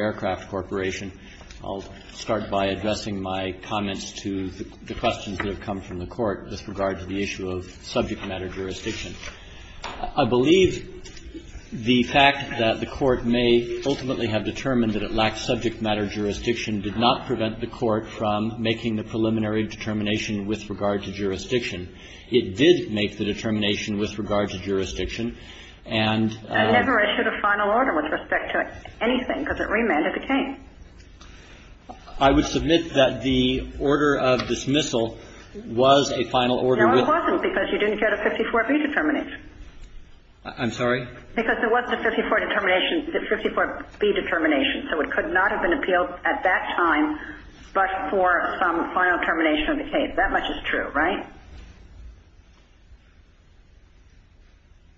Aircraft Corporation. I'll start by addressing my comments to the questions that have come from the Court with regard to the issue of subject matter jurisdiction. I believe the fact that the Court may ultimately have determined that it lacks subject matter jurisdiction did not prevent the Court from making the preliminary determination with regard to jurisdiction. It did make the determination with regard to jurisdiction. And never issued a final order with respect to anything because it remanded the case. I would submit that the order of dismissal was a final order. No, it wasn't because you didn't get a 54B determination. I'm sorry? Because there was a 54B determination, so it could not have been appealed at that time but for some final termination of the case. That much is true, right?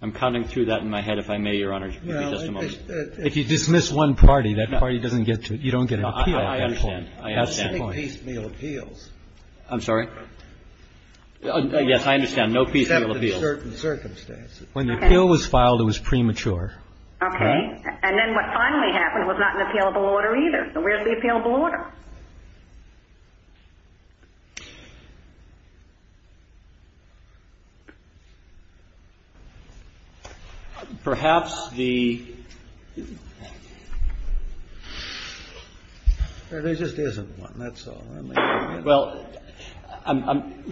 I'm counting through that in my head, if I may, Your Honor, just a moment. If you dismiss one party, that party doesn't get to it. You don't get an appeal. I understand. I understand. No piecemeal appeals. I'm sorry? Yes, I understand. No piecemeal appeals. Except in certain circumstances. When the appeal was filed, it was premature. Okay. And then what finally happened was not an appealable order either. So where's the appealable order? Perhaps the ---- There just isn't one. That's all. Well,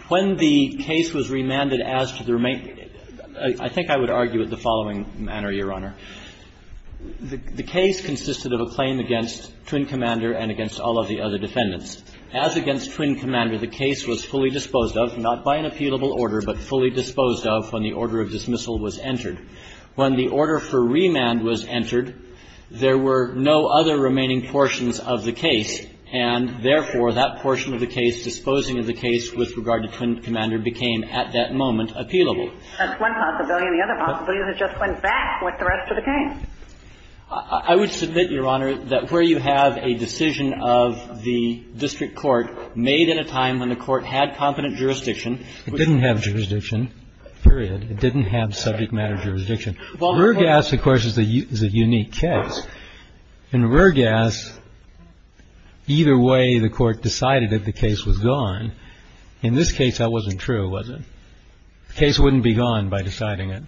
when the case was remanded as to the remaining ---- I think I would argue it the following manner, Your Honor. The case consisted of a claim against Twin Commander and against all of the other defendants. As against Twin Commander, the case was fully disposed of, not by an appealable order, but fully disposed of when the order of dismissal was entered. When the order for remand was entered, there were no other remaining portions of the case, and therefore that portion of the case disposing of the case with regard to Twin Commander became at that moment appealable. That's one possibility. The other possibility is it just went back like the rest of the case. I would submit, Your Honor, that where you have a decision of the district court made at a time when the court had competent jurisdiction ---- It didn't have jurisdiction, period. It didn't have subject matter jurisdiction. Rurgas, of course, is a unique case. In Rurgas, either way the court decided that the case was gone. In this case that wasn't true, was it? The case wouldn't be gone by deciding it.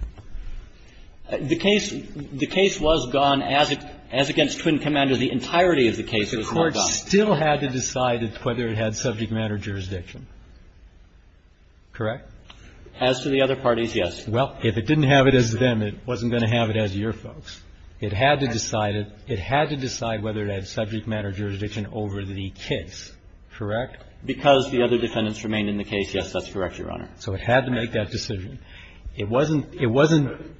The case was gone as against Twin Commander, the entirety of the case was gone. The court still had to decide whether it had subject matter jurisdiction. Correct? As to the other parties, yes. Well, if it didn't have it as them, it wasn't going to have it as your folks. It had to decide it. It had to decide whether it had subject matter jurisdiction over the case. Correct? Because the other defendants remained in the case, yes, that's correct, Your Honor. So it had to make that decision. It wasn't ---- it wasn't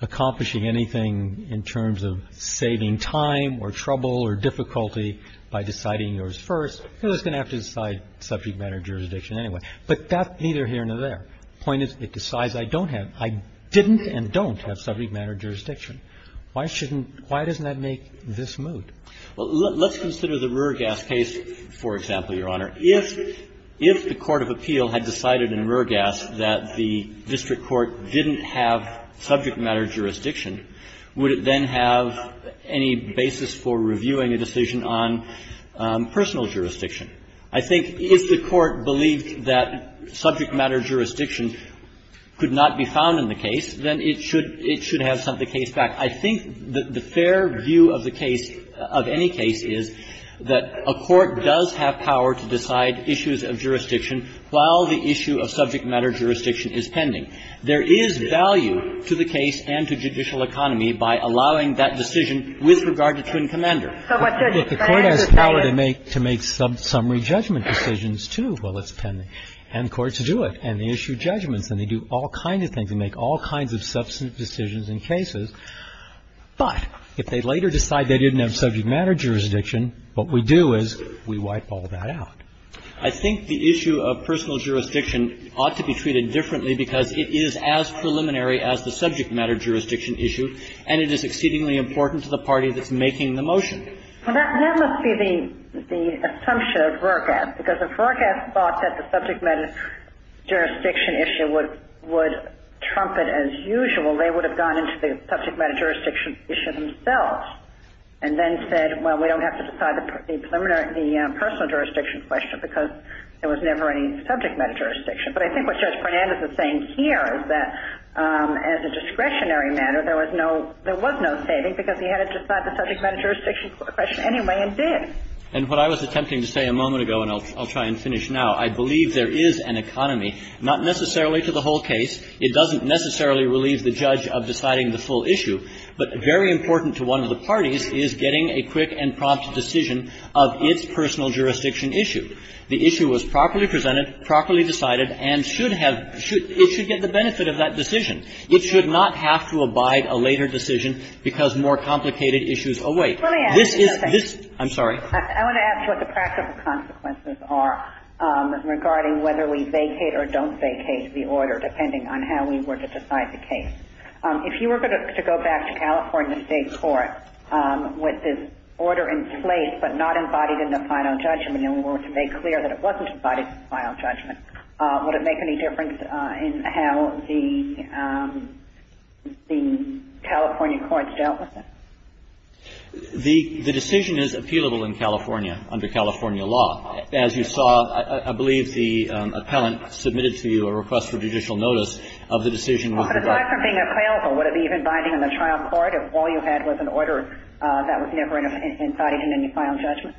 accomplishing anything in terms of saving time or trouble or difficulty by deciding yours first. It was going to have to decide subject matter jurisdiction anyway. But that neither here nor there. The point is it decides I don't have ---- I didn't and don't have subject matter jurisdiction. Why shouldn't ---- why doesn't that make this moot? Well, let's consider the Rurgas case, for example, Your Honor. If the court of appeal had decided in Rurgas that the district court didn't have subject matter jurisdiction, would it then have any basis for reviewing a decision on personal jurisdiction? I think if the court believed that subject matter jurisdiction could not be found in the case, then it should ---- it should have sent the case back. I think the fair view of the case, of any case, is that a court does have power to decide issues of jurisdiction while the issue of subject matter jurisdiction is pending. There is value to the case and to judicial economy by allowing that decision with regard to twin commander. If the court has power to make ---- to make summary judgment decisions, too, while it's pending, and courts do it, and they issue judgments, and they do all kinds of things and make all kinds of substantive decisions in cases, but if they later decide they didn't have subject matter jurisdiction, what we do is we wipe all that out. I think the issue of personal jurisdiction ought to be treated differently because it is as preliminary as the subject matter jurisdiction issue, and it is exceedingly important to the party that's making the motion. Well, that must be the assumption of Roorkeeff, because if Roorkeeff thought that the subject matter jurisdiction issue would trumpet as usual, they would have gone into the subject matter jurisdiction issue themselves and then said, well, we don't have to decide the preliminary ---- the personal jurisdiction question because there was never any subject matter jurisdiction. But I think what Judge Fernandez is saying here is that as a discretionary matter, there was no ---- there was no saving because he had to decide the subject matter jurisdiction question anyway and did. And what I was attempting to say a moment ago, and I'll try and finish now, I believe there is an economy, not necessarily to the whole case. It doesn't necessarily relieve the judge of deciding the full issue, but very important to one of the parties is getting a quick and prompt decision of its personal jurisdiction issue. The issue was properly presented, properly decided, and should have ---- it should get the benefit of that decision. It should not have to abide a later decision because more complicated issues await. This is ---- Let me ask you something. I'm sorry. I want to ask what the practical consequences are regarding whether we vacate or don't vacate the order, depending on how we were to decide the case. If you were to go back to California State court with this order in place but not embodied in the final judgment and we were to make clear that it wasn't embodied in the final judgment, would it make any difference in how the California courts dealt with it? The decision is appealable in California under California law. As you saw, I believe the appellant submitted to you a request for judicial notice of the decision with regard to ---- But aside from being appealable, would it be even binding in the trial court if all you had was an order that was never embodied in any final judgment?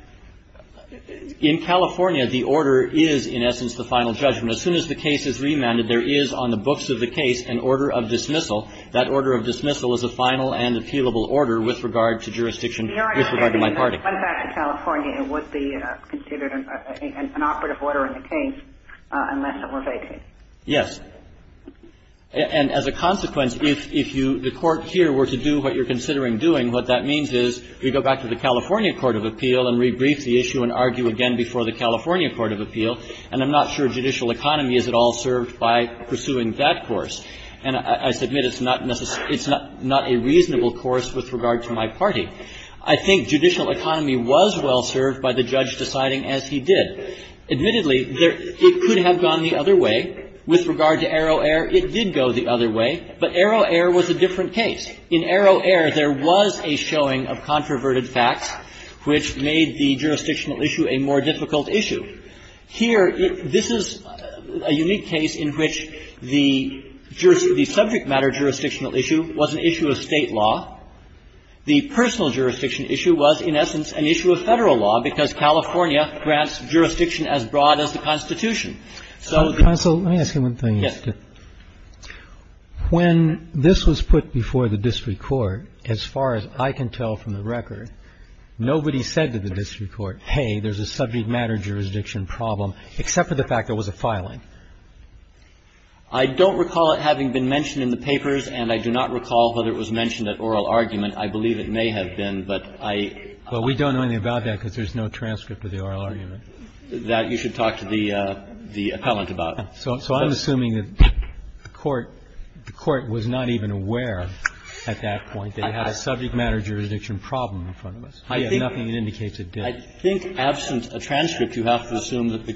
In California, the order is in essence the final judgment. As soon as the case is remanded, there is on the books of the case an order of dismissal. That order of dismissal is a final and appealable order with regard to jurisdiction with regard to my party. Your argument is if it went back to California, it would be considered an operative order in the case unless it were vacated. Yes. And as a consequence, if you ---- the court here were to do what you're considering doing, what that means is we go back to the California court of appeal and rebrief the issue and argue again before the California court of appeal. And I'm not sure judicial economy is at all served by pursuing that course. And I submit it's not a reasonable course with regard to my party. I think judicial economy was well served by the judge deciding as he did. Admittedly, it could have gone the other way. With regard to Arrow Air, it did go the other way. But Arrow Air was a different case. In Arrow Air, there was a showing of controverted facts which made the jurisdictional issue a more difficult issue. Here, this is a unique case in which the subject matter jurisdictional issue was an issue of State law. The personal jurisdiction issue was, in essence, an issue of Federal law because California grants jurisdiction as broad as the Constitution. So the ---- I'm assuming that the district court, as far as I can tell from the record, nobody said to the district court, hey, there's a subject matter jurisdiction problem except for the fact there was a filing. I don't recall it having been mentioned in the papers, and I do not recall whether it was mentioned at oral argument. I believe it may have been, but I ---- Well, we don't know anything about that because there's no transcript of the oral argument. That you should talk to the appellant about. So I'm assuming that the court was not even aware at that point that you had a subject matter jurisdiction problem in front of us. We have nothing that indicates it did. I think, absent a transcript, you have to assume that the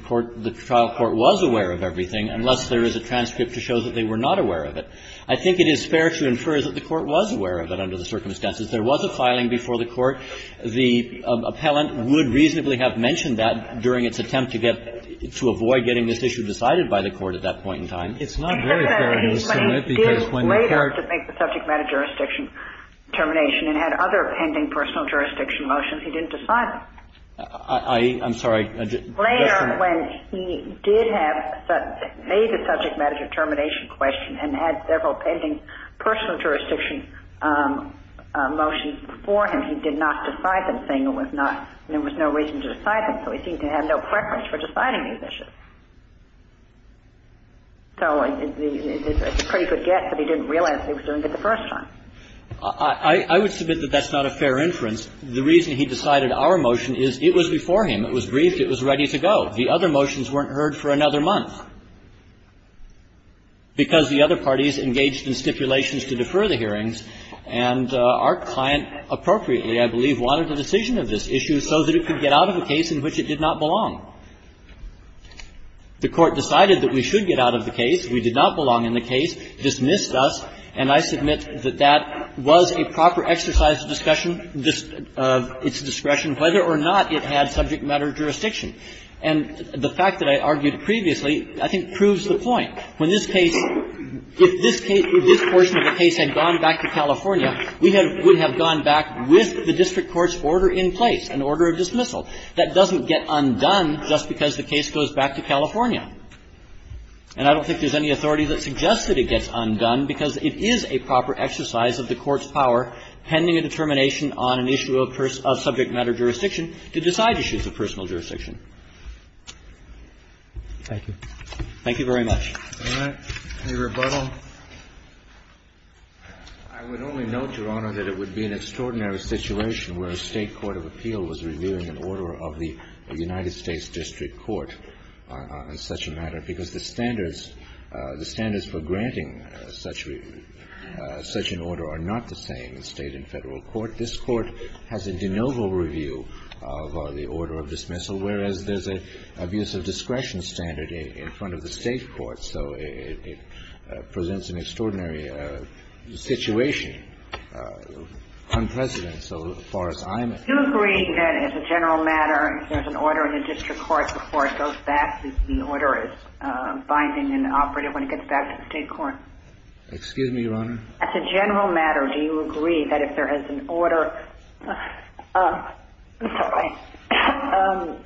trial court was aware of everything unless there is a transcript to show that they were not aware of it. I think it is fair to infer that the court was aware of it under the circumstances. There was a filing before the court. The appellant would reasonably have mentioned that during its attempt to get to avoid getting this issue decided by the court at that point in time. It's not very fair to assume it because when the court ---- He did later make the subject matter jurisdiction determination and had other pending personal jurisdiction motions. He didn't decide them. I'm sorry. Later, when he did have a subject matter determination question and had several pending personal jurisdiction motions before him, he did not decide them, saying there was no reason to decide them. So he seemed to have no preference for deciding these issues. So it's a pretty good guess that he didn't realize he was doing it the first time. I would submit that that's not a fair inference. The reason he decided our motion is it was before him. It was briefed. It was ready to go. The other motions weren't heard for another month because the other parties engaged wanted a decision of this issue so that it could get out of a case in which it did not belong. The court decided that we should get out of the case. We did not belong in the case. It dismissed us. And I submit that that was a proper exercise of discussion of its discretion whether or not it had subject matter jurisdiction. And the fact that I argued previously, I think, proves the point. When this case ---- If this case ---- If this portion of the case had gone back to California, we would have gone back with the district court's order in place, an order of dismissal. That doesn't get undone just because the case goes back to California. And I don't think there's any authority that suggests that it gets undone because it is a proper exercise of the court's power pending a determination on an issue of subject matter jurisdiction to decide issues of personal jurisdiction. Thank you. Thank you very much. All right. Any rebuttal? I would only note, Your Honor, that it would be an extraordinary situation where a State court of appeal was reviewing an order of the United States district court on such a matter because the standards, the standards for granting such an order are not the same in State and Federal court. This court has a de novo review of the order of dismissal, whereas there's an abuse of discretion standard in front of the State court. So it presents an extraordinary situation, unprecedented so far as I'm aware. Do you agree that as a general matter, if there's an order in the district court before it goes back, that the order is binding and operative when it gets back to the State court? Excuse me, Your Honor? As a general matter, do you agree that if there is an order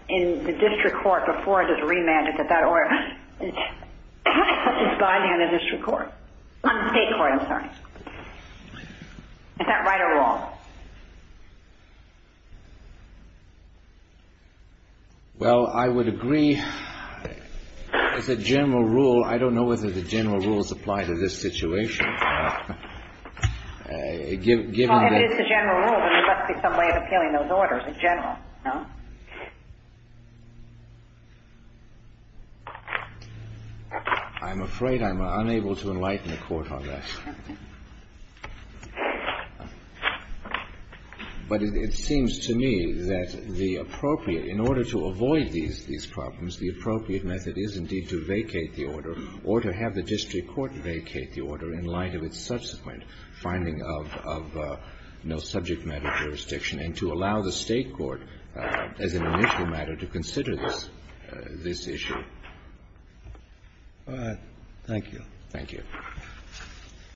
in the district court before it is remanded, that that order is binding in the district court? State court, I'm sorry. Is that right or wrong? Well, I would agree. As a general rule, I don't know whether the general rules apply to this situation. Well, if it's a general rule, then there must be some way of appealing those orders in general, no? I'm afraid I'm unable to enlighten the Court on this. But it seems to me that the appropriate, in order to avoid these problems, the appropriate method is indeed to vacate the order or to have the district court vacate the order in light of its subsequent finding of no subject matter jurisdiction and to allow the State court as an initial matter to consider this issue. Thank you. Thank you.